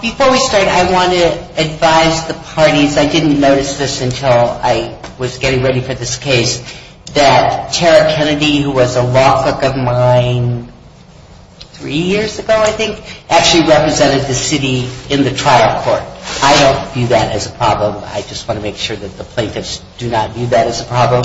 Before we start, I want to advise the parties, I didn't notice this until I was getting ready for this case, that Tara Kennedy, who was a law clerk of mine three years ago, I think, actually represented the city in the trial court. I don't view that as a problem. I just want to make sure that the plaintiffs do not view that as a problem.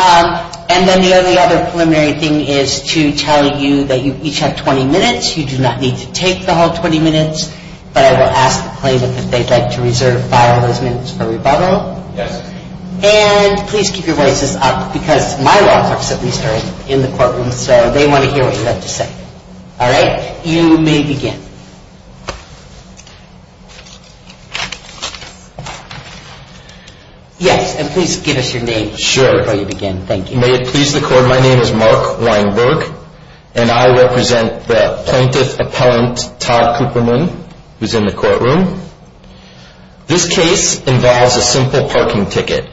And then the other preliminary thing is to tell you that you each have 20 minutes. You do not need to take the whole 20 minutes, but I will ask the plaintiff if they'd like to reserve five of those minutes for rebuttal. And please keep your voices up because my law clerks at least are in the courtroom, so they want to hear what you have to say. All right, you may begin. Yes, and please give us your name before you begin. May it please the court, my name is Mark Weinberg, and I represent the plaintiff-appellant Todd Kooperman, who is in the courtroom. This case involves a simple parking ticket,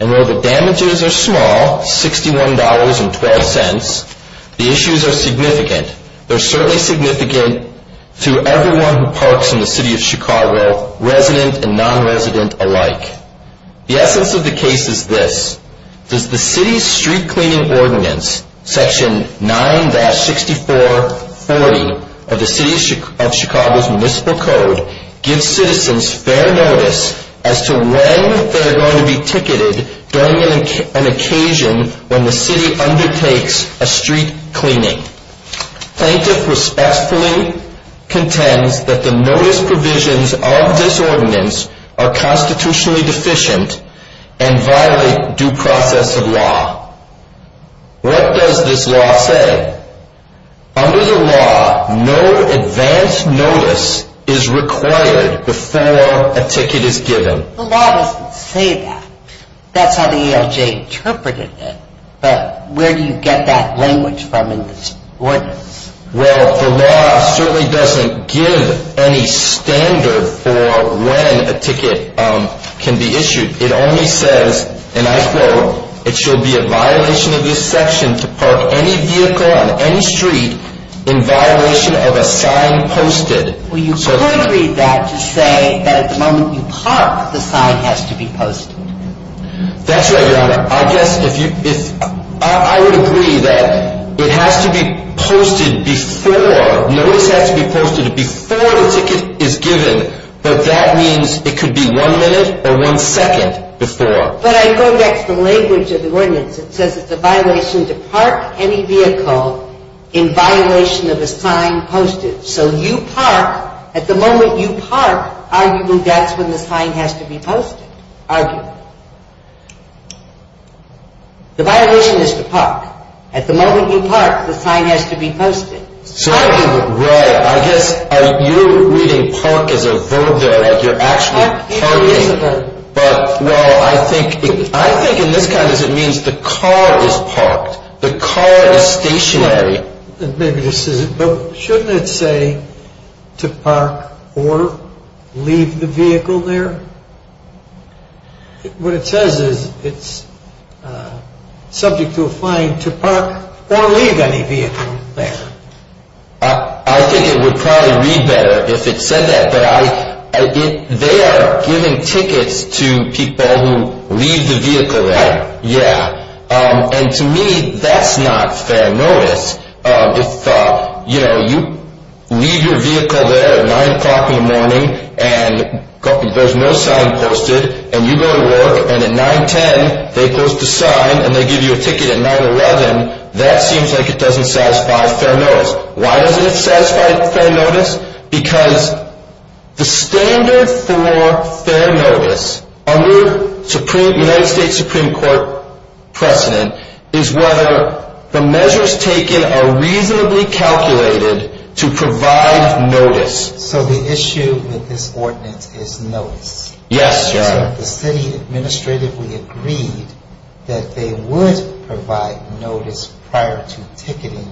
and while the damages are small, $61.12, the issues are significant. They're certainly significant to everyone who parks in the City of Chicago, resident and non-resident alike. The essence of the case is this. Does the City's Street Cleaning Ordinance, Section 9-6440 of the City of Chicago's Municipal Code, give citizens fair notice as to when they're going to be ticketed during an occasion when the City undertakes a street cleaning? The plaintiff respectfully contends that the notice provisions of this ordinance are constitutionally deficient and violate due process of law. What does this law say? Under the law, no advance notice is required before a ticket is given. The law doesn't say that. That's how the ALJ interpreted it, but where do you get that language from in this ordinance? Well, the law certainly doesn't give any standard for when a ticket can be issued. It only says, and I quote, it shall be a violation of this section to park any vehicle on any street in violation of a sign posted. Well, you could read that to say that at the moment you park, the sign has to be posted. That's right, Your Honor. I guess if you, if, I would agree that it has to be posted before, notice has to be posted before the ticket is given, but that means it could be one minute or one second before. But I go back to the language of the ordinance. It says it's a violation to park any vehicle in violation of a sign posted. So you park, at the moment you park, arguably that's when the sign has to be posted, arguably. The violation is to park. At the moment you park, the sign has to be posted. Right. I guess you're reading park as a verb there, that you're actually parking. But, well, I think in this context it means the car is parked. The car is stationary. Maybe this isn't, but shouldn't it say to park or leave the vehicle there? What it says is it's subject to a fine to park or leave any vehicle there. I think it would probably read better if it said that, but they are giving tickets to people who leave the vehicle there. Right. So why is it a satisfied fair notice? Because the standard for fair notice under United States Supreme Court precedent is whether the measures taken are reasonably calculated to provide notice. So the issue with this ordinance is notice. Yes, Your Honor. So if the city administratively agreed that they would provide notice prior to ticketing,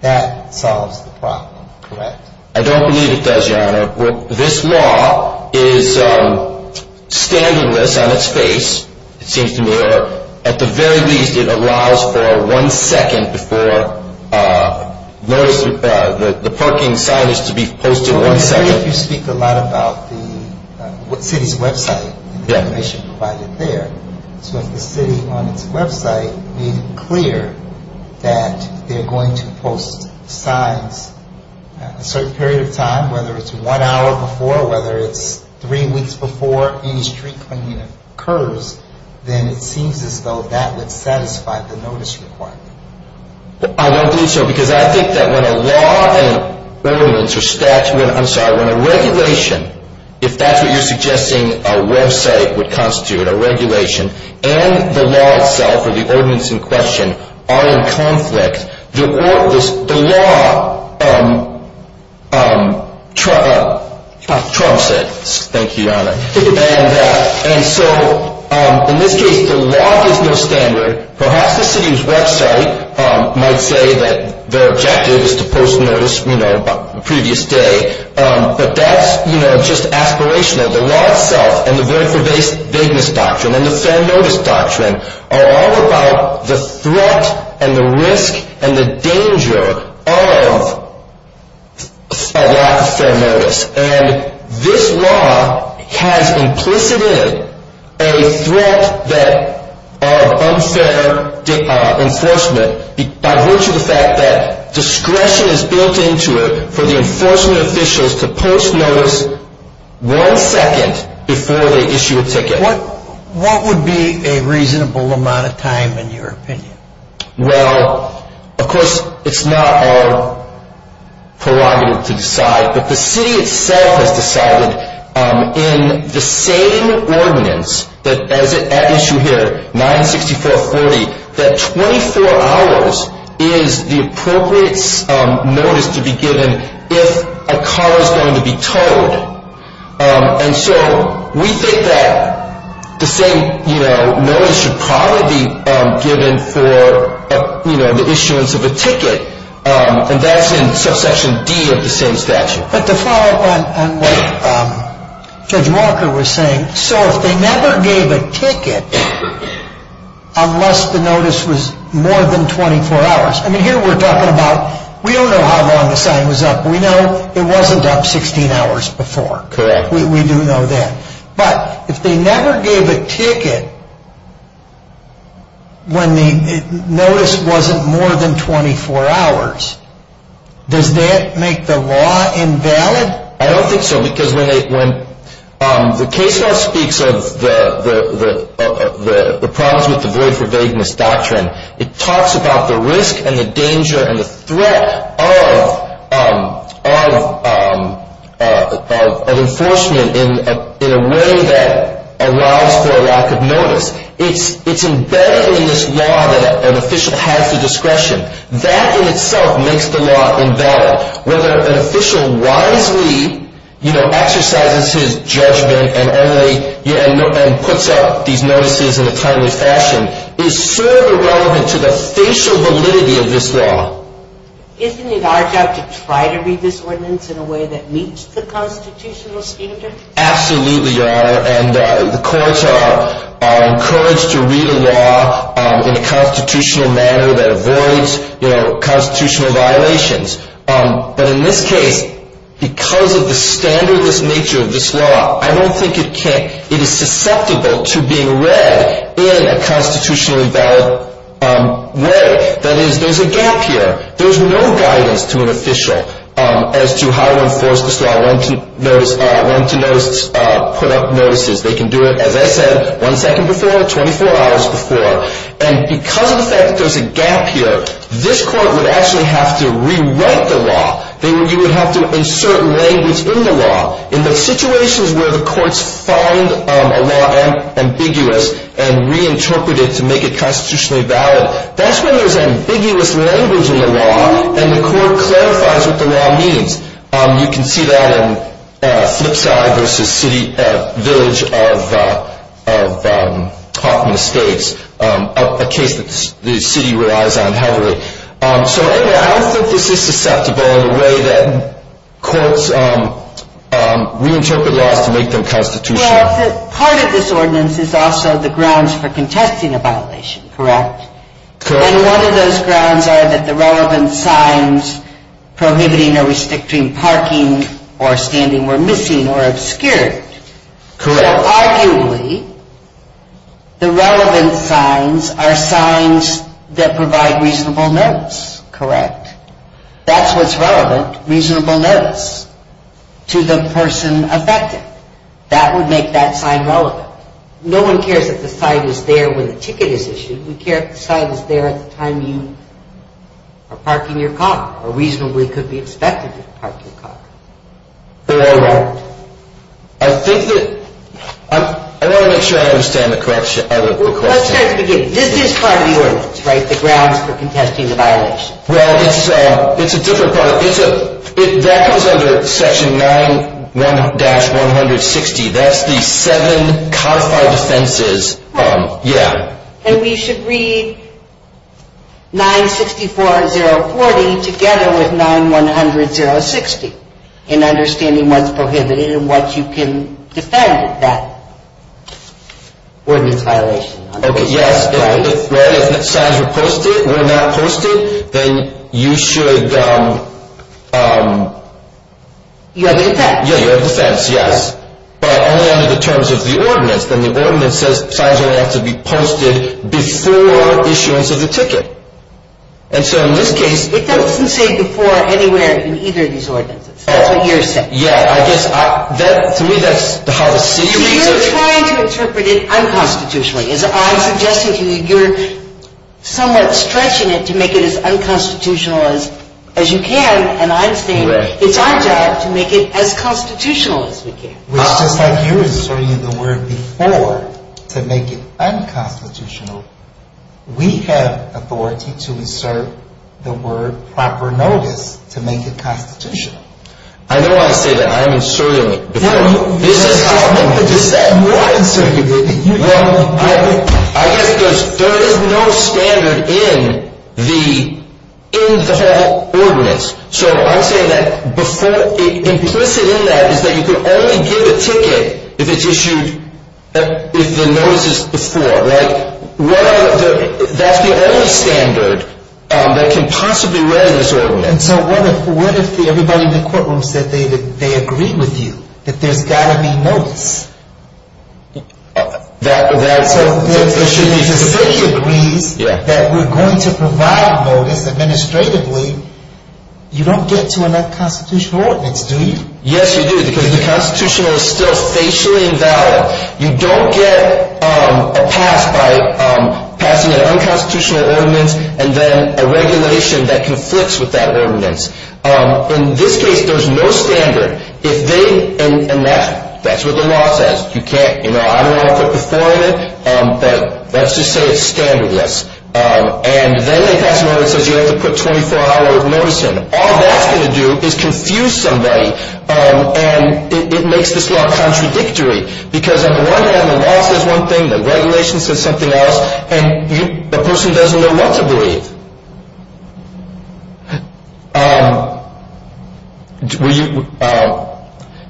that solves the problem, correct? I don't believe it does, Your Honor. This law is standardless on its face, it seems to me, or at the very least it allows for one second before the parking sign is to be posted. So if you speak a lot about the city's website and the information provided there, so if the city on its website made it clear that they're going to post signs at a certain period of time, whether it's one hour before, whether it's three weeks before any street cleaning occurs, then it seems as though that would satisfy the notice requirement. I don't believe so, because I think that when a law and a regulation, if that's what you're suggesting a website would constitute, a regulation, and the law itself or the ordinance in question are in conflict, the law trumps it. And so in this case, the law gives no standard. Perhaps the city's website might say that their objective is to post notice the previous day, but that's just aspirational. The law itself and the void for vagueness doctrine and the fair notice doctrine are all about the threat and the risk and the danger of a lack of fair notice. And this law has implicit in it a threat of unfair enforcement by virtue of the fact that discretion is built into it for the enforcement officials to post notice one second before they issue a ticket. What would be a reasonable amount of time, in your opinion? Well, of course, it's not our prerogative to decide, but the city itself has decided in the same ordinance that is at issue here, 964.40, that 24 hours is the appropriate notice to be given if a car is going to be towed. And so we think that the same notice should probably be given for the issuance of a ticket, and that's in subsection D of the same statute. But to follow up on what Judge Walker was saying, so if they never gave a ticket unless the notice was more than 24 hours, I mean, here we're talking about, we don't know how long the sign was up. We know it wasn't up 16 hours before. Correct. We do know that. But if they never gave a ticket when the notice wasn't more than 24 hours, does that make the law invalid? I don't think so, because when the case law speaks of the problems with the void for vagueness doctrine, it talks about the risk and the danger and the threat of enforcement in a way that allows for a lack of notice. It's embedded in this law that an official has the discretion. That in itself makes the law invalid. Whether an official wisely, you know, exercises his judgment and puts up these notices in a timely fashion is sort of irrelevant to the facial validity of this law. Isn't it our job to try to read this ordinance in a way that meets the constitutional standard? Absolutely, Your Honor, and the courts are encouraged to read a law in a constitutional manner that avoids constitutional violations. But in this case, because of the standard nature of this law, I don't think it is susceptible to being read in a constitutionally valid way. That is, there's a gap here. There's no guidance to an official as to how to enforce this law, when to put up notices. They can do it, as I said, one second before, 24 hours before. And because of the fact that there's a gap here, this court would actually have to rewrite the law. You would have to insert language in the law. In the situations where the courts find a law ambiguous and reinterpret it to make it constitutionally valid, that's when there's ambiguous language in the law and the court clarifies what the law means. You can see that in Flipside v. Village of Hoffman Estates, a case that the city relies on heavily. So, anyway, I don't think this is susceptible in the way that courts reinterpret laws to make them constitutional. Well, part of this ordinance is also the grounds for contesting a violation, correct? Correct. And one of those grounds are that the relevant signs prohibiting or restricting parking or standing were missing or obscured. Correct. So, arguably, the relevant signs are signs that provide reasonable notice, correct? That's what's relevant, reasonable notice, to the person affected. That would make that sign relevant. No one cares if the sign is there when the ticket is issued. We care if the sign is there at the time you are parking your car or reasonably could be expected to park your car. Correct. I think that I want to make sure I understand the question. Let's start at the beginning. This is part of the ordinance, right, the grounds for contesting the violation. Well, it's a different part. That comes under section 9-160. That's the seven codified offenses. Yeah. And we should read 964-040 together with 9-100-060 in understanding what's prohibited and what you can defend that ordinance violation. Okay, yes. If the signs were not posted, then you should... You have a defense. Yeah, you have a defense, yes. But only under the terms of the ordinance. Then the ordinance says signs only have to be posted before issuance of the ticket. And so in this case... It doesn't say before anywhere in either of these ordinances. That's what you're saying. Yeah, I guess to me that's how the city reads it. You're trying to interpret it unconstitutionally. I'm suggesting to you you're somewhat stretching it to make it as unconstitutional as you can. And I'm saying it's our job to make it as constitutional as we can. It's just like you're inserting the word before to make it unconstitutional. We have authority to insert the word proper notice to make it constitutional. I know I say that I'm inserting it before. No, you're just making it more incirculating. I guess because there is no standard in the whole ordinance. So I'm saying that implicit in that is that you can only give a ticket if it's issued with the notices before. That's the only standard that can possibly run this ordinance. And so what if everybody in the courtroom said they agree with you? That there's got to be notice? That... So if the city agrees that we're going to provide notice administratively, you don't get to an unconstitutional ordinance, do you? Yes, you do, because the constitutional is still facially invalid. You don't get a pass by passing an unconstitutional ordinance and then a regulation that conflicts with that ordinance. In this case, there's no standard. If they... And that's what the law says. You can't... I don't know how to put the four in it, but let's just say it's standardless. And then they pass a law that says you have to put 24-hour notice in. All that's going to do is confuse somebody, and it makes this law contradictory, because on the one hand, the law says one thing, the regulation says something else, and the person doesn't know what to believe.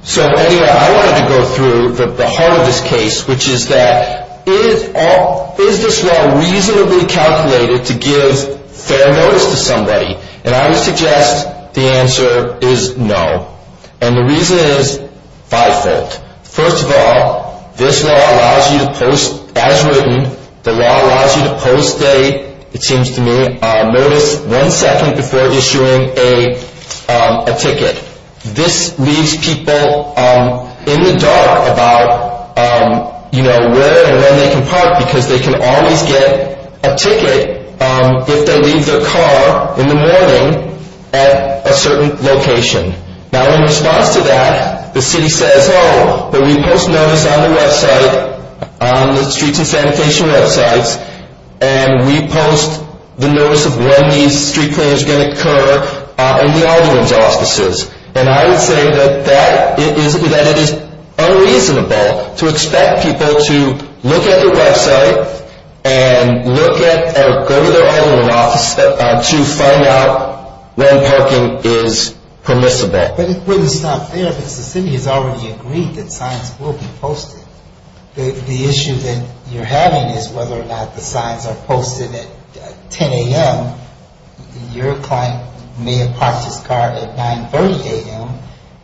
So anyway, I wanted to go through the heart of this case, which is that is this law reasonably calculated to give fair notice to somebody? And I would suggest the answer is no. And the reason is fivefold. First of all, this law allows you to post as written. The law allows you to post a, it seems to me, notice one second before issuing a ticket. This leaves people in the dark about, you know, where and when they can park, because they can always get a ticket if they leave their car in the morning at a certain location. Now, in response to that, the city says, oh, but we post notice on the website, on the streets and sanitation websites, and we post the notice of when these street cleaners are going to occur in the audience offices. And I would say that it is unreasonable to expect people to look at their website and look at or go to their item of office to find out when parking is permissible. But it wouldn't stop there, because the city has already agreed that signs will be posted. The issue that you're having is whether or not the signs are posted at 10 a.m. Your client may have parked his car at 9.30 a.m.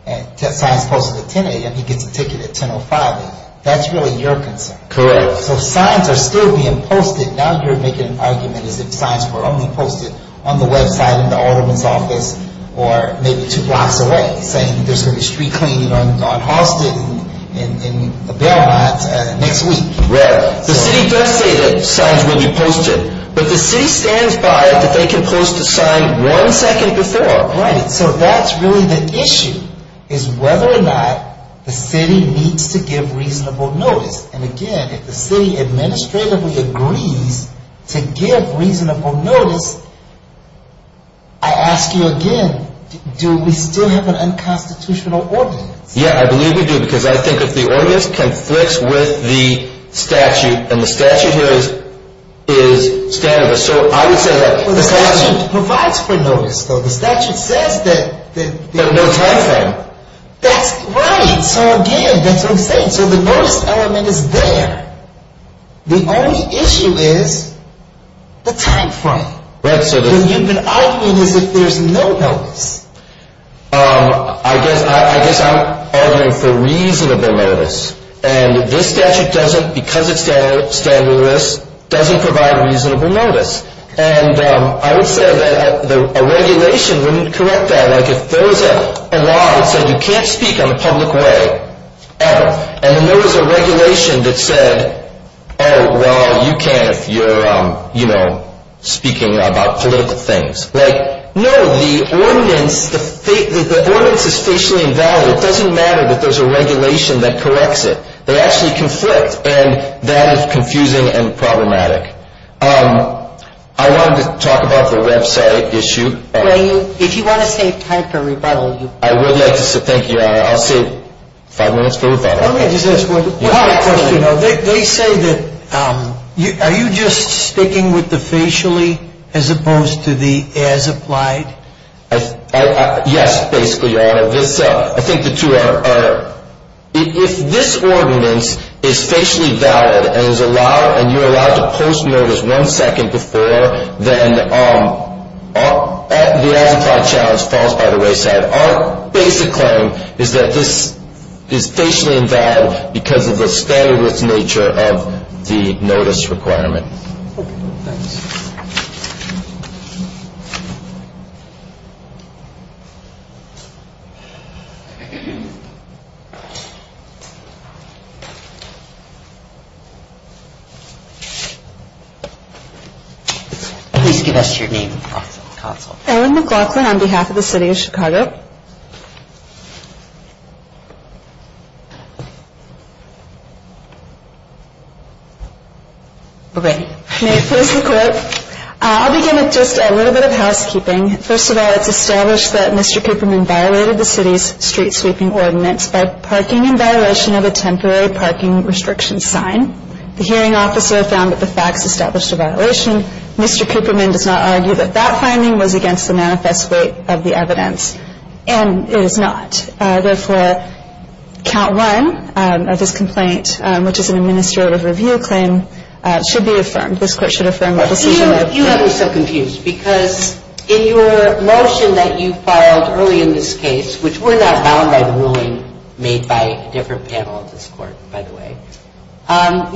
and signs posted at 10 a.m. He gets a ticket at 10.05 a.m. That's really your concern. Correct. So signs are still being posted. Now you're making an argument as if signs were only posted on the website in the audience office or maybe two blocks away, saying there's going to be street cleaning on Halston and Belmont next week. Correct. The city does say that signs will be posted, but the city stands by that they can post a sign one second before. Right. So that's really the issue, is whether or not the city needs to give reasonable notice. And, again, if the city administratively agrees to give reasonable notice, I ask you again, do we still have an unconstitutional ordinance? Yeah, I believe we do, because I think if the ordinance conflicts with the statute, and the statute here is standard. So I would say that the statute provides for notice, though. The statute says that there's no time frame. That's right. So, again, that's what I'm saying. So the notice element is there. The only issue is the time frame. Right. So you've been arguing as if there's no notice. I guess I'm arguing for reasonable notice. And this statute doesn't, because it's standard, doesn't provide reasonable notice. And I would say that a regulation wouldn't correct that. Like if there was a law that said you can't speak in a public way, ever, and then there was a regulation that said, oh, well, you can if you're, you know, speaking about political things. Like, no, the ordinance is facially invalid. It doesn't matter that there's a regulation that corrects it. They actually conflict, and that is confusing and problematic. I wanted to talk about the website issue. If you want to save time for rebuttal. I would like to say, thank you, Your Honor. I'll save five minutes for rebuttal. Let me just ask one question. They say that, are you just sticking with the facially as opposed to the as applied? Yes, basically, Your Honor. I think the two are, if this ordinance is facially valid and is allowed, and you're allowed to post notice one second before, then the as applied challenge falls by the wayside. Our basic claim is that this is facially invalid because of the standard nature of the notice requirement. Thanks. Please give us your name. Ellen McLaughlin on behalf of the city of Chicago. I'll begin with just a little bit of housekeeping. First of all, it's established that Mr. Paperman violated the city's street sweeping ordinance by parking in violation of a temporary parking restriction sign. The hearing officer found that the facts established a violation. Mr. Paperman does not argue that that finding was against the manifest weight of the evidence. And it is not. Therefore, count one of this complaint, which is an administrative review claim, should be affirmed. This court should affirm the decision. You have me so confused because in your motion that you filed early in this case, which we're not bound by the ruling made by a different panel of this court, by the way,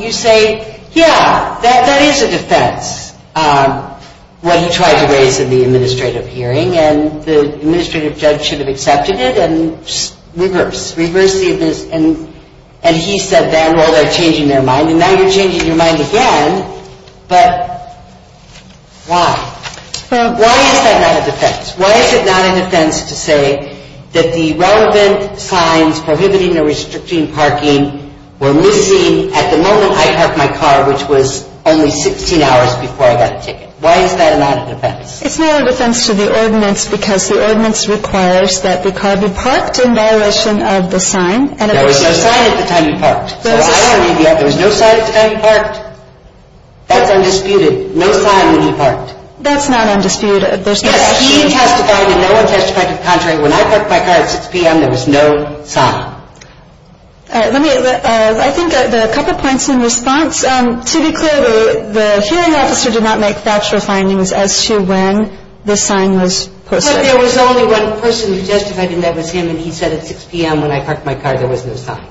you say, yeah, that is a defense, what he tried to raise in the administrative hearing. And the administrative judge should have accepted it. And reverse. Reverse the evidence. And he said, well, they're changing their mind. And now you're changing your mind again. But why? Why is that not a defense? Why is it not a defense to say that the relevant signs prohibiting or restricting parking were missing at the moment I parked my car, which was only 16 hours before I got a ticket? Why is that not a defense? It's not a defense to the ordinance because the ordinance requires that the car be parked in violation of the sign. There was no sign at the time you parked. There was no sign at the time you parked. That's undisputed. No sign when you parked. That's not undisputed. Yes, he testified and no one testified to the contrary. When I parked my car at 6 p.m., there was no sign. All right. Let me, I think there are a couple points in response. To be clear, the hearing officer did not make factual findings as to when the sign was posted. But there was only one person who justified him. That was him. And he said at 6 p.m. when I parked my car, there was no sign.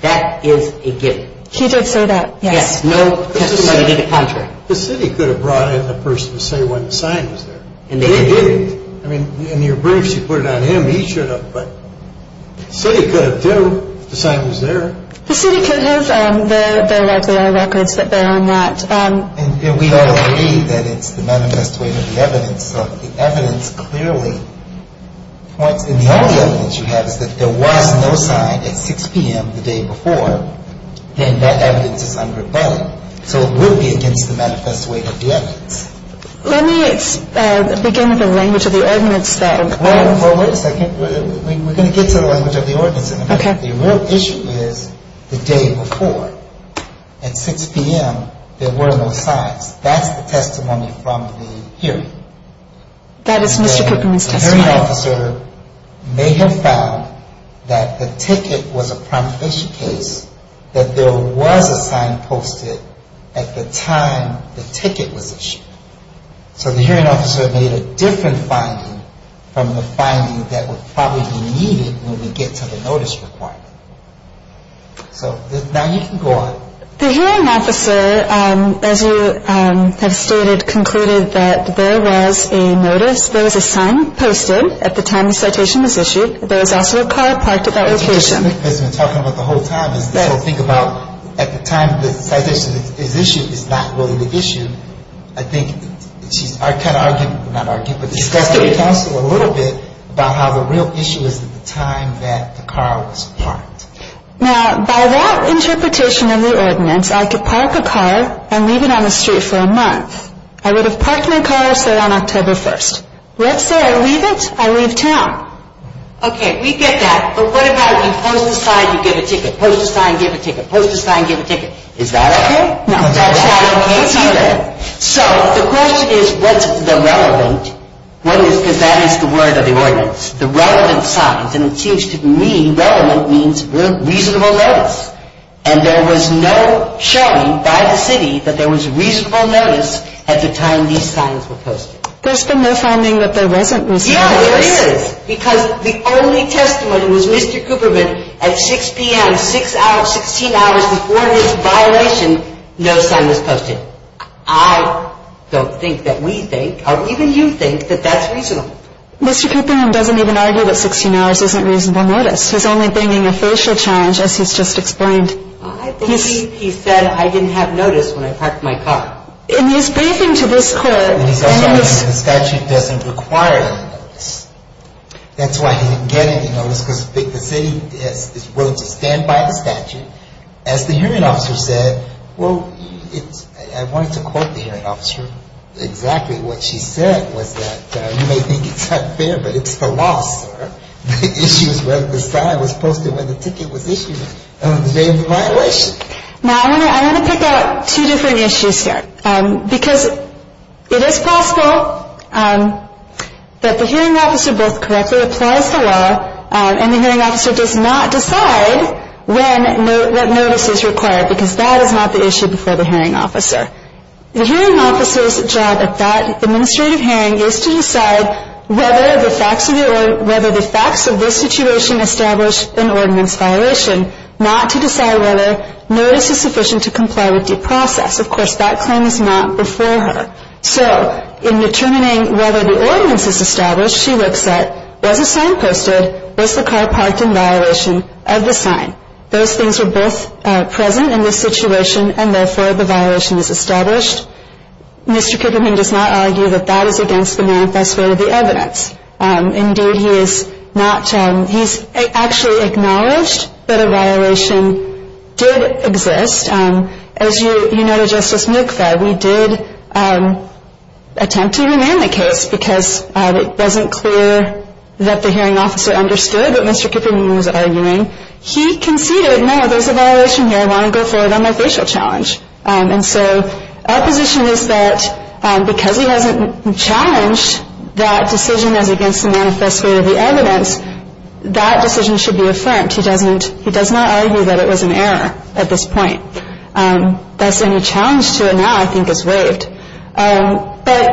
That is a given. He did say that. Yes. No testimony to the contrary. The city could have brought in a person to say when the sign was there. He didn't. I mean, in your briefs, you put it on him. He should have. But the city could have, too, if the sign was there. The city could have. There are records that bear on that. And we all agree that it's the manifest way of the evidence. So the evidence clearly points. And the only evidence you have is that there was no sign at 6 p.m. the day before. And that evidence is unrebutted. So it would be against the manifest way of the evidence. Let me begin with the language of the ordinance, then. Well, wait a second. We're going to get to the language of the ordinance in a minute. Okay. The real issue is the day before. At 6 p.m., there were no signs. That's the testimony from the hearing. That is Mr. Cookman's testimony. The hearing officer may have found that the ticket was a promulgation case, that there was a sign posted at the time the ticket was issued. So the hearing officer made a different finding from the finding that would probably be needed when we get to the notice report. So now you can go on. The hearing officer, as you have stated, concluded that there was a notice, there was a sign posted at the time the citation was issued. There was also a car parked at that location. That's what she's been talking about the whole time, is this whole thing about at the time the citation is issued is not really the issue. I think she's kind of arguing, not arguing, but discussing with counsel a little bit about how the real issue is at the time that the car was parked. Now, by that interpretation of the ordinance, I could park a car and leave it on the street for a month. I would have parked my car, say, on October 1st. Let's say I leave it, I leave town. Okay. We get that. But what about you post a sign, you give a ticket? Post a sign, give a ticket. Post a sign, give a ticket. Is that okay? No. So the question is, what's the relevant? Because that is the word of the ordinance, the relevant signs. And it seems to me relevant means reasonable notice. And there was no showing by the city that there was reasonable notice at the time these signs were posted. There's been no finding that there wasn't, Mr. Cooperman. Yeah, there is. Because the only testimony was Mr. Cooperman at 6 p.m., 16 hours before this violation, no sign was posted. I don't think that we think, or even you think, that that's reasonable. Mr. Cooperman doesn't even argue that 16 hours isn't reasonable notice. He's only bringing a facial challenge, as he's just explained. He said, I didn't have notice when I parked my car. In his briefing to this court. And he's also arguing the statute doesn't require notice. That's why he didn't get any notice, because the city is willing to stand by the statute. As the hearing officer said, well, I wanted to quote the hearing officer exactly what she said, was that you may think it's unfair, but it's the law, sir. The issue is whether the sign was posted when the ticket was issued on the day of the violation. Now, I want to pick out two different issues here. Because it is possible that the hearing officer both correctly applies the law, and the hearing officer does not decide when notice is required, because that is not the issue before the hearing officer. The hearing officer's job at that administrative hearing is to decide whether the facts of this situation establish an ordinance violation, not to decide whether notice is sufficient to comply with due process. Of course, that claim is not before her. So, in determining whether the ordinance is established, she looks at, was a sign posted? Was the car parked in violation of the sign? Those things are both present in this situation, and therefore the violation is established. Mr. Kuperman does not argue that that is against the manifest way of the evidence. Indeed, he is not, he's actually acknowledged that a violation did exist. As you know, to Justice Mikva, we did attempt to remand the case, because it wasn't clear that the hearing officer understood what Mr. Kuperman was arguing. He conceded, no, there's a violation here. I want to go forward on my facial challenge. And so, our position is that because he hasn't challenged that decision as against the manifest way of the evidence, that decision should be affirmed. He does not argue that it was an error at this point. Thus, any challenge to it now, I think, is waived. But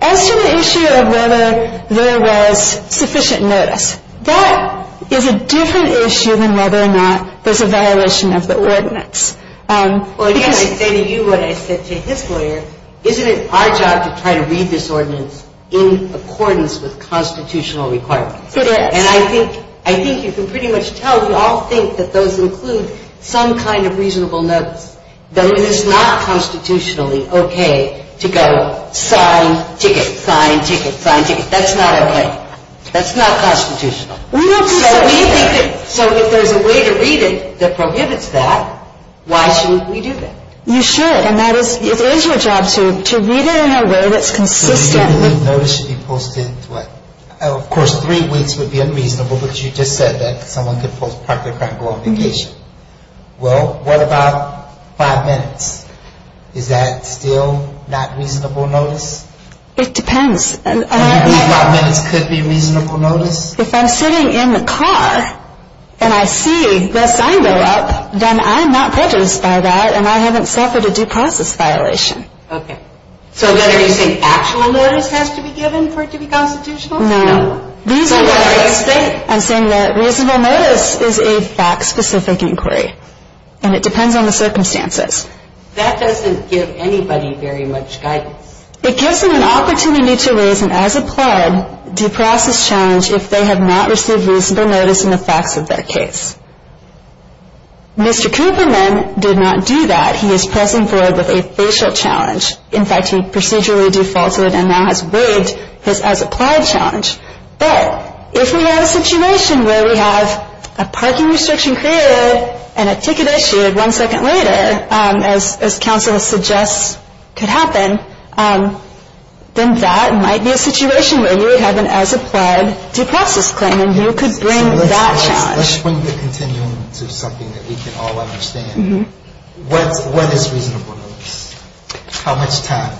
as to the issue of whether there was sufficient notice, that is a different issue than whether or not there's a violation of the ordinance. Well, again, I say to you what I said to his lawyer. Isn't it our job to try to read this ordinance in accordance with constitutional requirements? It is. And I think you can pretty much tell we all think that those include some kind of reasonable notice, that it is not constitutionally okay to go sign, ticket, sign, ticket, sign, ticket. That's not okay. That's not constitutional. So if there's a way to read it that prohibits that, why shouldn't we do that? You should. And that is, it is your job to read it in a way that's consistent with. A reasonable notice should be posted, what? Of course, three weeks would be unreasonable, but you just said that someone could post part of their practical obligation. Well, what about five minutes? Is that still not reasonable notice? It depends. Five minutes could be reasonable notice? If I'm sitting in the car and I see the sign go up, then I'm not prejudiced by that and I haven't suffered a due process violation. Okay. So then are you saying actual notice has to be given for it to be constitutional? No. So what are you saying? I'm saying that reasonable notice is a fact-specific inquiry, and it depends on the circumstances. That doesn't give anybody very much guidance. It gives them an opportunity to raise an as-applied due process challenge if they have not received reasonable notice in the facts of their case. Mr. Cooperman did not do that. He is pressing forward with a facial challenge. In fact, he procedurally defaulted and now has waived his as-applied challenge. But if we have a situation where we have a parking restriction created and a ticket issued one second later, as counsel suggests could happen, then that might be a situation where we would have an as-applied due process claim, and you could bring that challenge. Let's swing the continuum to something that we can all understand. What is reasonable notice? How much time?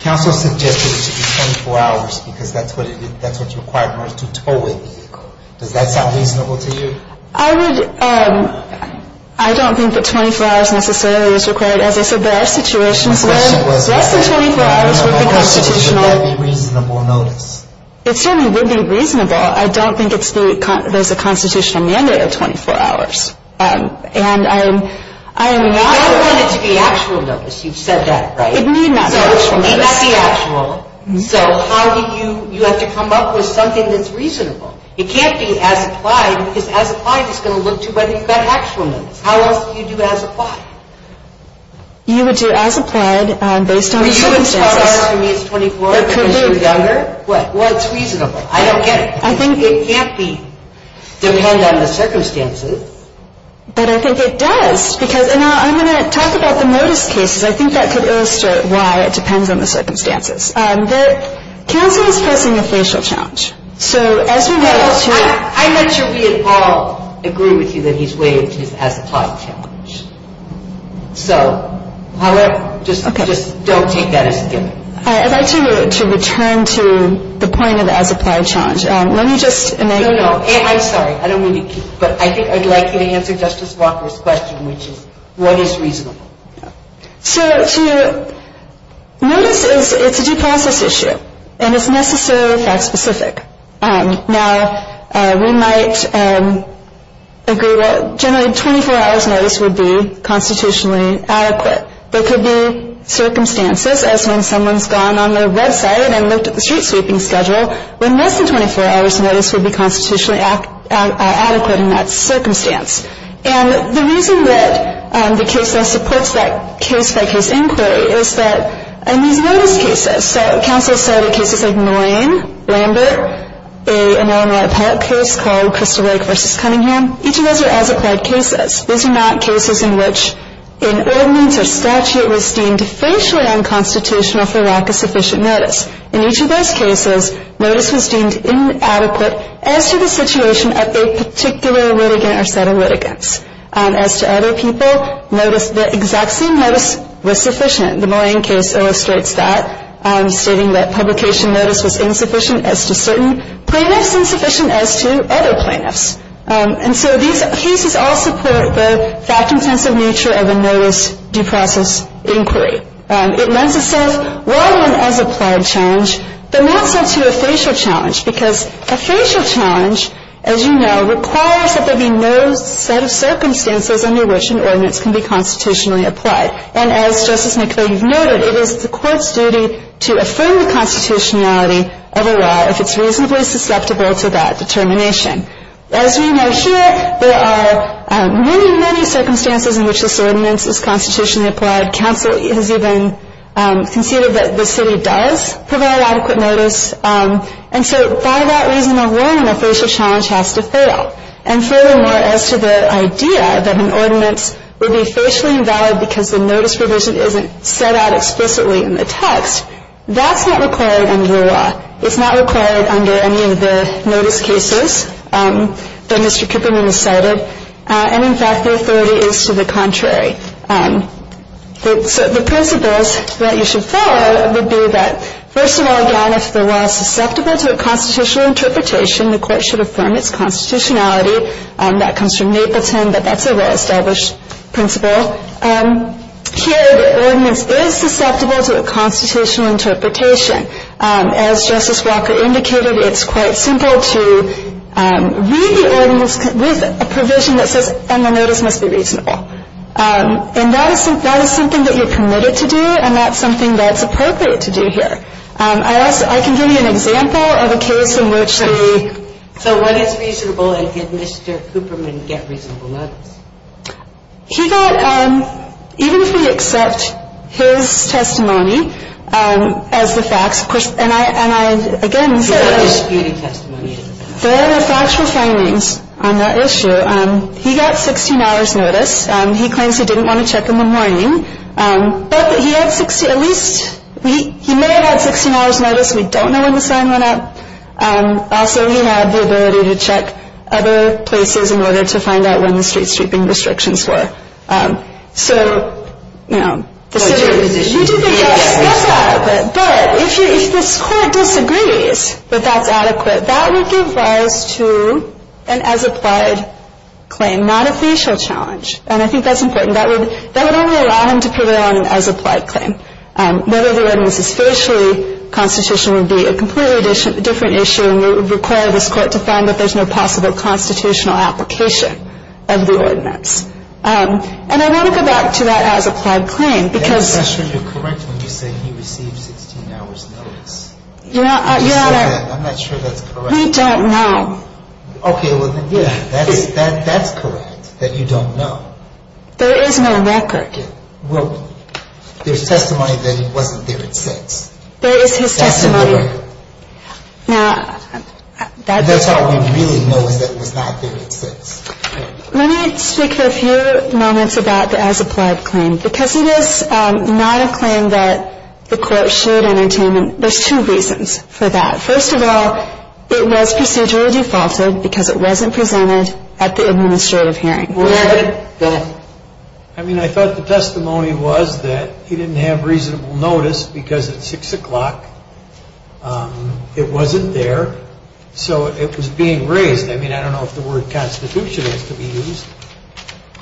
Counsel suggested it should be 24 hours because that's what's required in order to tow a vehicle. Does that sound reasonable to you? I would – I don't think that 24 hours necessarily is required. As I said, there are situations where less than 24 hours would be constitutional. My question is would that be reasonable notice? It certainly would be reasonable. I don't think it's the – there's a constitutional mandate of 24 hours. And I am not – You don't want it to be actual notice. You've said that, right? It need not be actual notice. So it need not be actual. So how do you – you have to come up with something that's reasonable. It can't be as-applied because as-applied is going to look to whether you've got actual notice. How else do you do as-applied? You would do as-applied based on the circumstances. Were you as far as for me it's 24 hours because you're younger? What? Well, it's reasonable. I don't get it. I think it can't be – depend on the circumstances. But I think it does because – and I'm going to talk about the notice cases. I think that could illustrate why it depends on the circumstances. The counsel is facing a facial challenge. So as we were able to – I'm not sure we at all agree with you that he's waived his as-applied challenge. So, however, just don't take that as a given. I'd like to return to the point of the as-applied challenge. Let me just – No, no. I'm sorry. I don't mean to keep – but I think I'd like you to answer Justice Walker's question, which is what is reasonable? So to – notice is – it's a due process issue. And it's necessarily fact-specific. Now, we might agree that generally a 24-hours notice would be constitutionally adequate. But there could be circumstances, as when someone's gone on their website and looked at the street sweeping schedule, when less than 24-hours notice would be constitutionally adequate in that circumstance. And the reason that the case law supports that case-by-case inquiry is that in these notice cases – so counsel cited cases like Moraine, Lambert, an Illinois appellate case called Crystal Lake v. Cunningham. Each of those are as-applied cases. These are not cases in which an ordinance or statute was deemed facially unconstitutional for lack of sufficient notice. In each of those cases, notice was deemed inadequate as to the situation of a particular litigant or set of litigants. As to other people, notice – the exact same notice was sufficient. The Moraine case illustrates that, stating that publication notice was insufficient as to certain plaintiffs, insufficient as to other plaintiffs. And so these cases all support the fact-intensive nature of a notice due process inquiry. It lends itself, while not as-applied challenge, but not so to a facial challenge, because a facial challenge, as you know, requires that there be no set of circumstances under which an ordinance can be constitutionally applied. And as Justice McClain noted, it is the court's duty to affirm the constitutionality of a law if it's reasonably susceptible to that determination. As we know here, there are many, many circumstances in which this ordinance is constitutionally applied. Counsel has even conceded that the city does provide adequate notice. And so, for that reason alone, a facial challenge has to fail. And furthermore, as to the idea that an ordinance would be facially invalid because the notice provision isn't set out explicitly in the text, that's not required under the law. It's not required under any of the notice cases that Mr. Kuperman has cited. And, in fact, the authority is to the contrary. So the principles that you should follow would be that, first of all, again, if the law is susceptible to a constitutional interpretation, the court should affirm its constitutionality. That comes from Napleton, but that's a well-established principle. Here, the ordinance is susceptible to a constitutional interpretation. As Justice Walker indicated, it's quite simple to read the ordinance with a provision that says, and the notice must be reasonable. And that is something that you're permitted to do, and that's something that's appropriate to do here. I can give you an example of a case in which they... So what is reasonable, and did Mr. Kuperman get reasonable notice? He got, even if we accept his testimony as the facts, of course, and I, again... There are disputed testimonies. There are factual findings on that issue. He got 16 hours' notice. He claims he didn't want to check in the morning, but he had 60, at least, he may have had 16 hours' notice. We don't know when the sign went up. Also, he had the ability to check other places in order to find out when the street sweeping restrictions were. So, you know... You do think that's adequate, but if this court disagrees that that's adequate, that would give rise to an as-applied claim, not a facial challenge. And I think that's important. That would only allow him to prevail on an as-applied claim. Whether the ordinance is facially constitutional would be a completely different issue, and it would require this court to find that there's no possible constitutional application of the ordinance. And I want to go back to that as-applied claim, because... That's actually correct when you say he received 16 hours' notice. You're not... I'm not sure that's correct. We don't know. Okay, well, yeah, that's correct, that you don't know. There is no record. There's testimony that he wasn't there at 6. There is his testimony. Now, that's all we really know is that he was not there at 6. Let me speak for a few moments about the as-applied claim. Because it is not a claim that the court should entertain, there's two reasons for that. First of all, it was procedurally defaulted because it wasn't presented at the administrative hearing. I mean, I thought the testimony was that he didn't have reasonable notice because at 6 o'clock it wasn't there, so it was being raised. I mean, I don't know if the word constitution has to be used.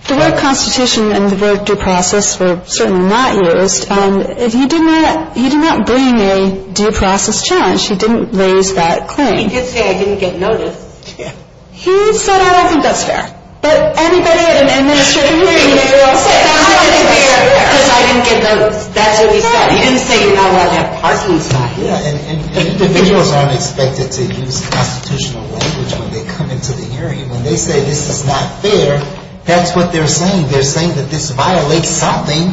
The word constitution and the word due process were certainly not used. He did not bring a due process challenge. He didn't raise that claim. He did say I didn't get notice. He said I don't think that's fair. But everybody at an administrative hearing, they were all saying I don't think it's fair because I didn't get notice. That's what he said. He didn't say, oh, well, that parking's not here. Individuals aren't expected to use constitutional language when they come into the hearing. When they say this is not fair, that's what they're saying. They're saying that this violates something.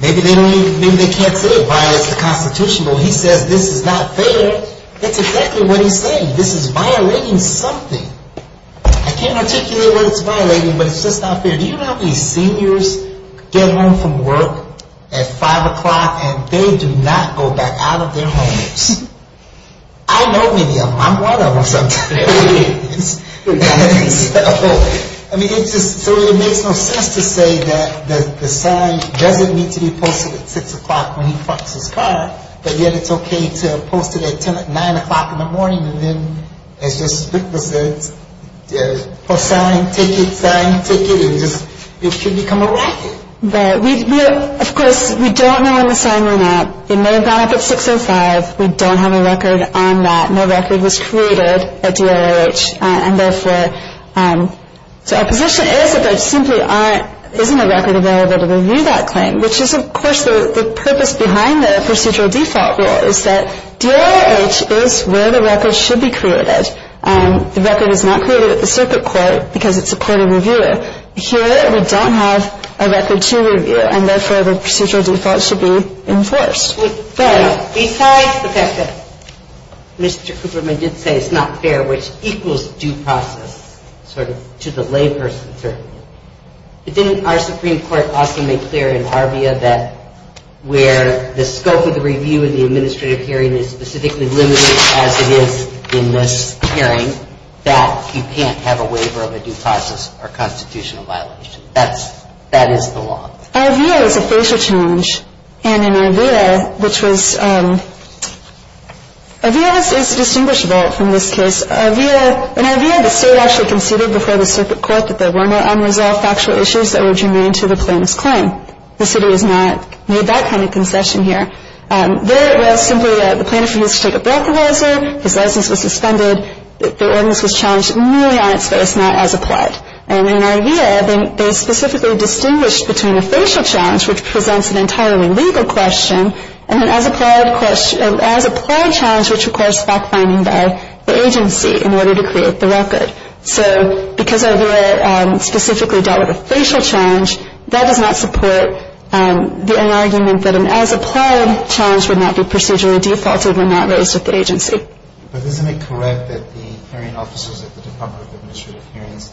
Maybe they can't say it violates the constitution, but when he says this is not fair, that's exactly what he's saying. This is violating something. I can't articulate what it's violating, but it's just not fair. Do you know how many seniors get home from work at 5 o'clock and they do not go back out of their homes? I know many of them. I'm one of them sometimes. I mean, so it makes no sense to say that the son doesn't need to be posted at 6 o'clock when he parks his car, but yet it's okay to post it at 9 o'clock in the morning and then it's just ridiculous. Post sign, take it, sign, take it. It should become a record. Of course, we don't know on the sign or not. It may have gone up at 6 o'clock. We don't have a record on that. No record was created at DIRH, and therefore, so our position is that there simply isn't a record available to review that claim, which is, of course, the purpose behind the procedural default rule is that DIRH is where the record should be created. The record is not created at the circuit court because it's a court of reviewer. Here, we don't have a record to review, and therefore, the procedural default should be enforced. But besides the fact that Mr. Cooperman did say it's not fair, which equals due process sort of to the layperson's argument, didn't our Supreme Court also make clear in ARVIA that where the scope of the review and the administrative hearing is specifically limited, as it is in this hearing, that you can't have a waiver of a due process or constitutional violation. That is the law. ARVIA is a facial change, and in ARVIA, which was – ARVIA is distinguishable from this case. In ARVIA, the state actually conceded before the circuit court that there were no unresolved factual issues that would remain to the plaintiff's claim. The city has not made that kind of concession here. There, it was simply that the plaintiff refused to take a breathalyzer, his license was suspended, the ordinance was challenged merely on its face, not as applied. And in ARVIA, they specifically distinguished between a facial challenge, which presents an entirely legal question, and an as-applied challenge, which requires fact-finding by the agency in order to create the record. So because ARVIA specifically dealt with a facial challenge, that does not support the argument that an as-applied challenge would not be procedurally defaulted and not raised with the agency. But isn't it correct that the hearing officers at the Department of Administrative Hearings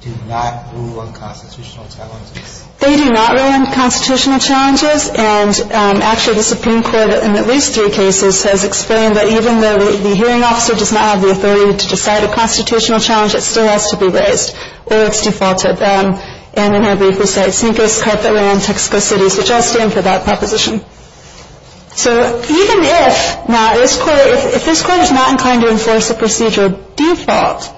do not rule on constitutional challenges? They do not rule on constitutional challenges. And actually, the Supreme Court, in at least three cases, has explained that even though the hearing officer does not have the authority to decide a constitutional challenge, it still has to be raised, or it's defaulted. And in our brief, we cite Sinclair's court that ran in Texas City, which I stand for that proposition. So even if this court is not inclined to enforce a procedural default,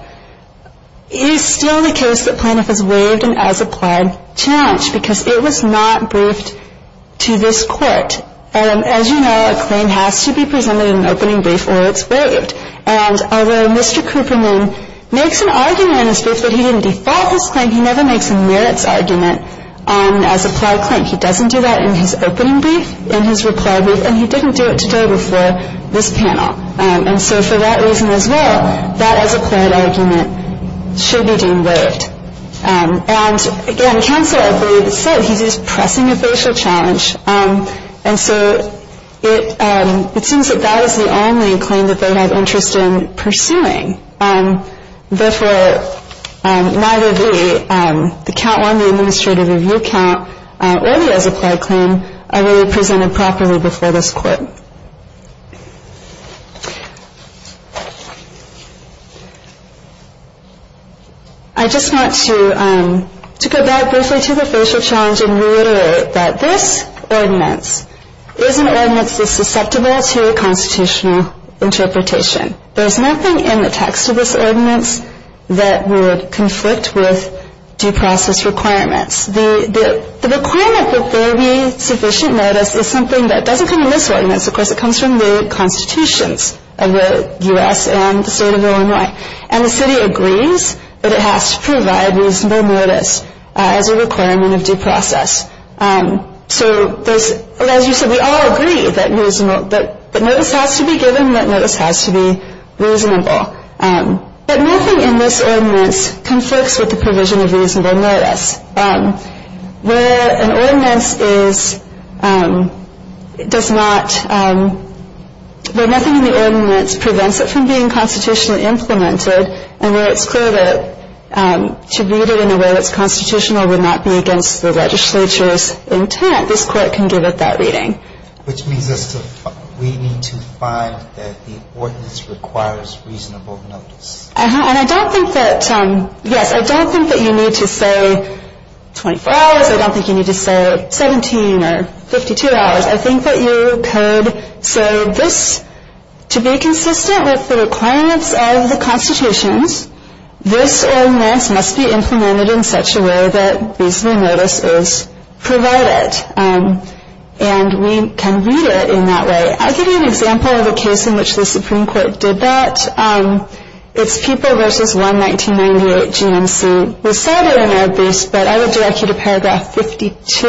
it is still the case that plaintiff is waived an as-applied challenge, because it was not briefed to this court. As you know, a claim has to be presented in an opening brief, or it's waived. And although Mr. Cooperman makes an argument in his brief that he didn't default his claim, he never makes a merits argument on an as-applied claim. He doesn't do that in his opening brief, in his reply brief, and he didn't do it today before this panel. And so for that reason as well, that as-applied argument should be deemed waived. And again, counsel, I believe, said he's just pressing a facial challenge. And so it seems that that is the only claim that they have interest in pursuing. Therefore, neither the count one, the administrative review count, or the as-applied claim are really presented properly before this court. Thank you. I just want to go back briefly to the facial challenge and reiterate that this ordinance is an ordinance that's susceptible to a constitutional interpretation. There's nothing in the text of this ordinance that would conflict with due process requirements. The requirement that there be sufficient notice is something that doesn't come in this ordinance. Of course, it comes from the constitutions of the U.S. and the state of Illinois. And the city agrees that it has to provide reasonable notice as a requirement of due process. So as you said, we all agree that notice has to be given, that notice has to be reasonable. But nothing in this ordinance conflicts with the provision of reasonable notice. Where an ordinance is, does not, where nothing in the ordinance prevents it from being constitutionally implemented and where it's clear that to read it in a way that's constitutional would not be against the legislature's intent, this court can give it that reading. Which means we need to find that the ordinance requires reasonable notice. And I don't think that, yes, I don't think that you need to say 24 hours. I don't think you need to say 17 or 52 hours. I think that you could say this, to be consistent with the requirements of the constitutions, this ordinance must be implemented in such a way that reasonable notice is provided. And we can read it in that way. I'll give you an example of a case in which the Supreme Court did that. It's People v. 1-1998-GNC. We cite it in our abuse, but I would direct you to paragraph 52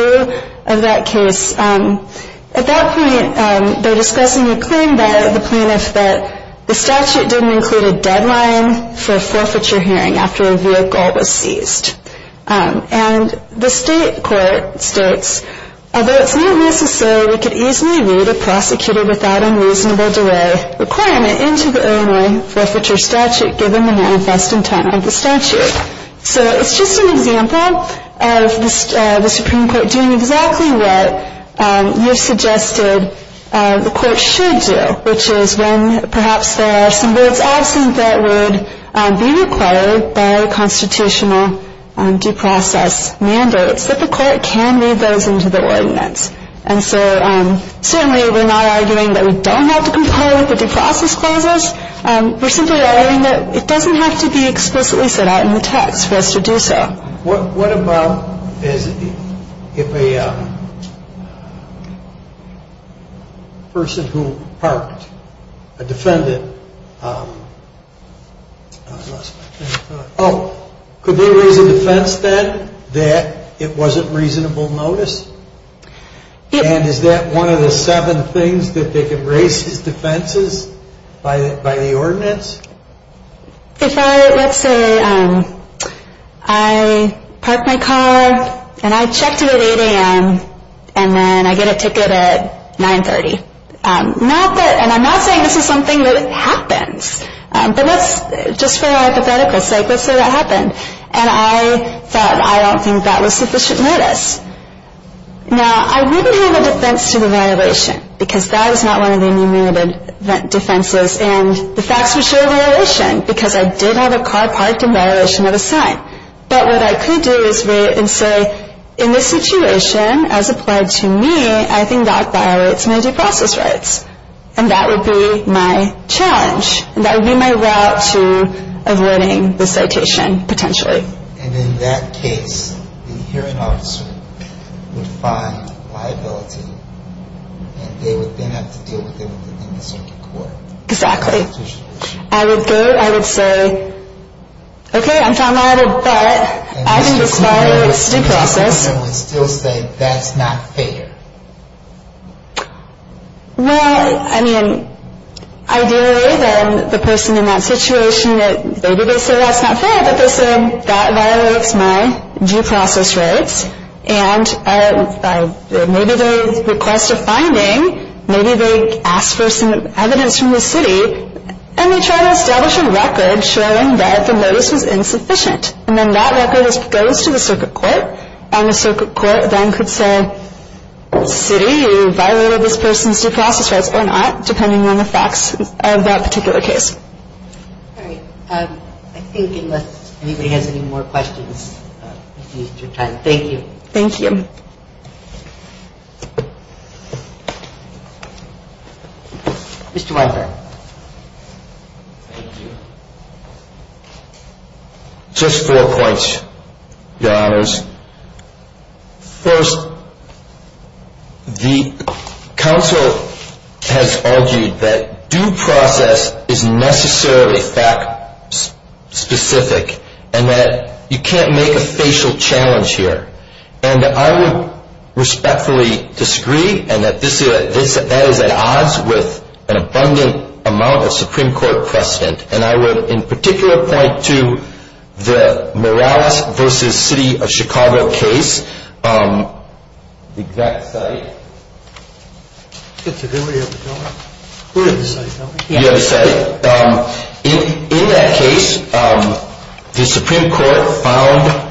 of that case. At that point, they're discussing a claim by the plaintiff that the statute didn't include a deadline for a forfeiture hearing after a vehicle was seized. And the state court states, So it's just an example of the Supreme Court doing exactly what you suggested the court should do, which is when perhaps there are some words absent that would be required by constitutional due process mandates, that the court can read those into the ordinance. And so certainly we're not arguing that we don't have to comply with the due process clauses. We're simply arguing that it doesn't have to be explicitly set out in the text for us to do so. What about if a person who parked, a defendant, Oh, could they raise a defense then that it wasn't reasonable notice? And is that one of the seven things that they could raise as defenses by the ordinance? If I, let's say, I parked my car and I checked it at 8 a.m. and then I get a ticket at 9.30. Not that, and I'm not saying this is something that happens. But let's, just for our hypothetical sake, let's say that happened. And I thought, I don't think that was sufficient notice. Now, I wouldn't have a defense to the violation because that is not one of the enumerated defenses. And the facts would show violation because I did have a car parked in violation of a sign. But what I could do is wait and say, in this situation, as applied to me, I think that violates my due process rights. And that would be my challenge. That would be my route to avoiding the citation, potentially. And in that case, the hearing officer would find liability and they would then have to deal with it in the circuit court. Exactly. I would go, I would say, okay, I'm found liable, but I think this violates due process. And the circuit court would still say, that's not fair. Well, I mean, ideally, then the person in that situation, maybe they say that's not fair, but they say, that violates my due process rights. And maybe they request a finding. Maybe they ask for some evidence from the city. And they try to establish a record showing that the notice was insufficient. And then that record goes to the circuit court. And the circuit court then could say, city, you violated this person's due process rights or not, depending on the facts of that particular case. All right. I think unless anybody has any more questions, we've used your time. Thank you. Thank you. Mr. Weinberg. Thank you. Just four points, Your Honors. First, the counsel has argued that due process is necessarily fact specific and that you can't make a facial challenge here. And I would respectfully disagree and that that is at odds with an abundant amount of Supreme Court precedent. And I would, in particular, point to the Morales v. City of Chicago case, the exact site. Did everybody have a job? You have a site. In that case, the Supreme Court found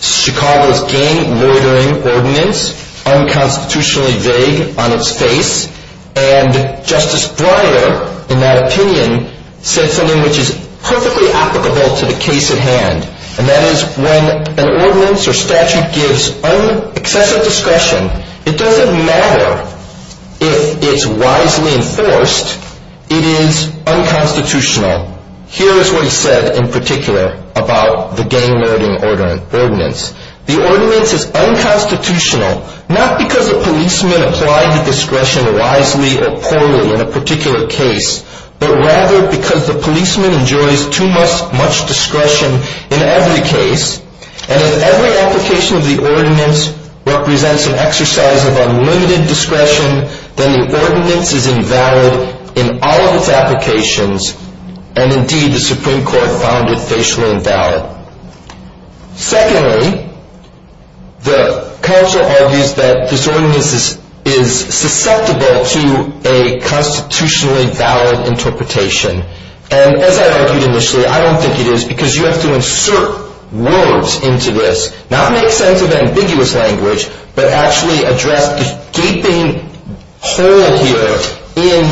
Chicago's gang murdering ordinance unconstitutionally vague on its face. And Justice Breyer, in that opinion, said something which is perfectly applicable to the case at hand. And that is when an ordinance or statute gives excessive discretion, it doesn't matter if it's wisely enforced, it is unconstitutional. Here is what he said in particular about the gang murdering ordinance. The ordinance is unconstitutional not because the policeman applied the discretion wisely or poorly in a particular case, but rather because the policeman enjoys too much discretion in every case. And if every application of the ordinance represents an exercise of unlimited discretion, then the ordinance is invalid in all of its applications. And, indeed, the Supreme Court found it facially invalid. Secondly, the counsel argues that this ordinance is susceptible to a constitutionally valid interpretation. And, as I argued initially, I don't think it is because you have to insert words into this, not make sense of ambiguous language, but actually address the gaping hole here in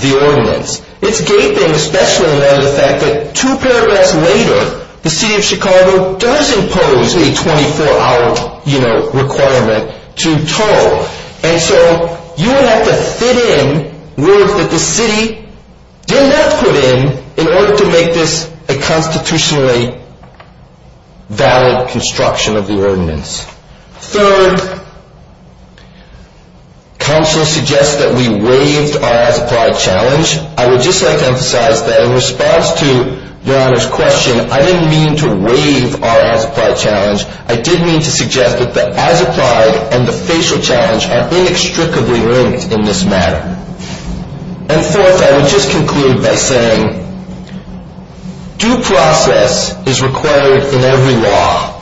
the ordinance. It's gaping, especially in light of the fact that two paragraphs later, the City of Chicago does impose a 24-hour requirement to toll. And so you would have to fit in words that the city did not put in, in order to make this a constitutionally valid construction of the ordinance. Third, counsel suggests that we waived our as-applied challenge. I would just like to emphasize that in response to Your Honor's question, I didn't mean to waive our as-applied challenge. I did mean to suggest that the as-applied and the facial challenge are inextricably linked in this matter. And, fourth, I would just conclude by saying due process is required in every law.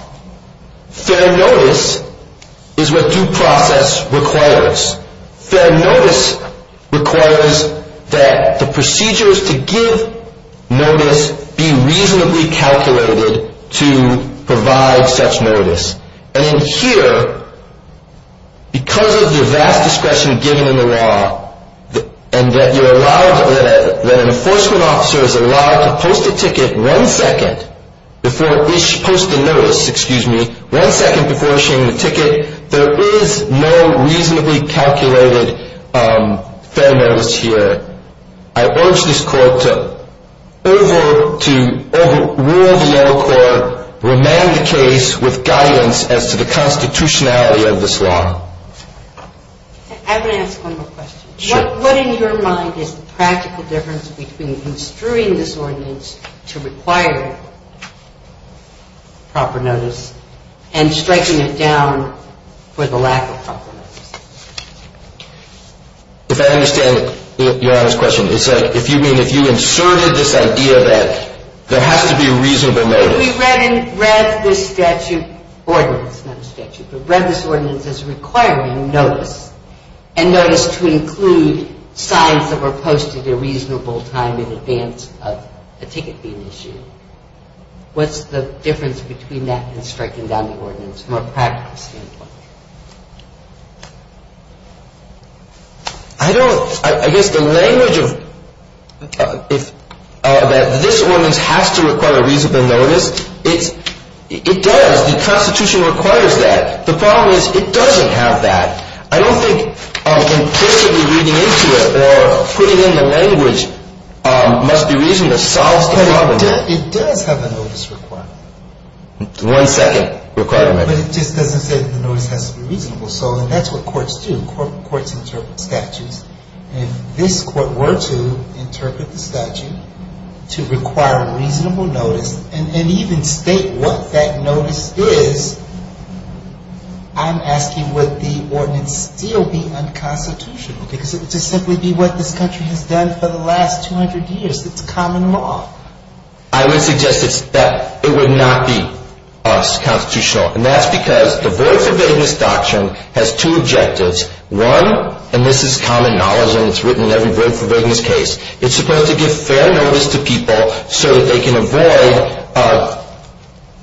Fair notice is what due process requires. Fair notice requires that the procedures to give notice be reasonably calculated to provide such notice. And in here, because of the vast discretion given in the law, and that an enforcement officer is allowed to post a ticket one second before issuing the ticket, there is no reasonably calculated fair notice here. I urge this Court to overrule the old court, remand the case with guidance as to the constitutionality of this law. I would ask one more question. What in your mind is the practical difference between construing this ordinance to require proper notice and striking it down for the lack of proper notice? If I understand Your Honor's question, you mean if you inserted this idea that there has to be reasonable notice? We read this statute, ordinance, not a statute, but read this ordinance as requiring notice, and notice to include signs that were posted a reasonable time in advance of a ticket being issued. What's the difference between that and striking down the ordinance from a practical standpoint? I don't, I guess the language of this ordinance has to require a reasonable notice, it does. The constitution requires that. The problem is it doesn't have that. I don't think implicitly reading into it or putting in the language must be reason to solve the problem. It does have a notice requirement. One second requirement. But it just doesn't say that the notice has to be reasonable, so that's what courts do. Courts interpret statutes. If this court were to interpret the statute to require a reasonable notice and even state what that notice is, I'm asking would the ordinance still be unconstitutional because it would just simply be what this country has done for the last 200 years. It's common law. I would suggest that it would not be unconstitutional, and that's because the Void For Vagueness Doctrine has two objectives. One, and this is common knowledge and it's written in every Void For Vagueness case, it's supposed to give fair notice to people so that they can avoid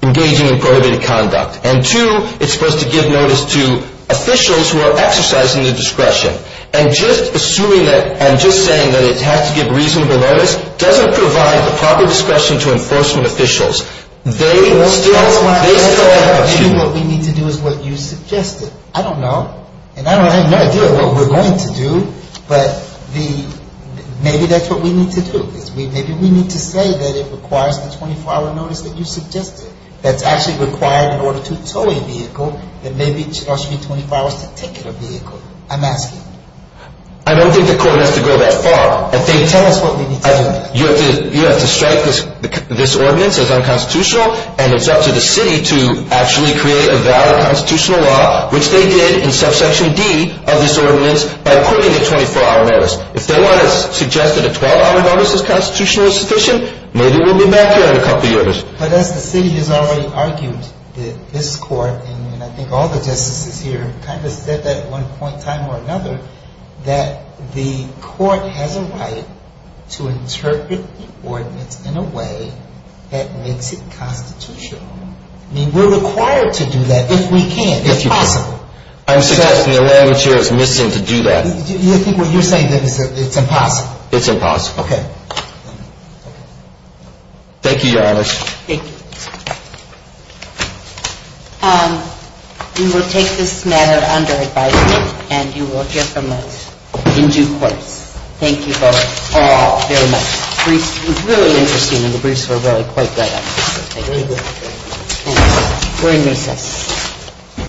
engaging in prohibited conduct. And two, it's supposed to give notice to officials who are exercising their discretion. And just assuming that and just saying that it has to give reasonable notice doesn't provide the proper discretion to enforcement officials. They still have the opportunity. Maybe what we need to do is what you suggested. I don't know, and I have no idea what we're going to do, but maybe that's what we need to do. Maybe we need to say that it requires the 24-hour notice that you suggested that's actually required in order to tow a vehicle, that maybe it should also be 24 hours to ticket a vehicle. I'm asking. I don't think the court has to go that far. Tell us what we need to do. You have to strike this ordinance as unconstitutional, and it's up to the city to actually create a valid constitutional law, which they did in subsection D of this ordinance by appointing a 24-hour notice. If they want to suggest that a 12-hour notice is constitutionally sufficient, maybe we'll be back here in a couple of years. But as the city has already argued that this court, and I think all the justices here kind of said that at one point in time or another, that the court has a right to interpret the ordinance in a way that makes it constitutional. I mean, we're required to do that if we can. If possible. I'm suggesting the law in the chair is missing to do that. You're saying that it's impossible. It's impossible. Okay. Thank you, Your Honor. Thank you. We will take this matter under advisement, and you will hear from us in due course. Thank you both all very much. The briefs were really interesting, and the briefs were really quite good. Thank you. We're in recess.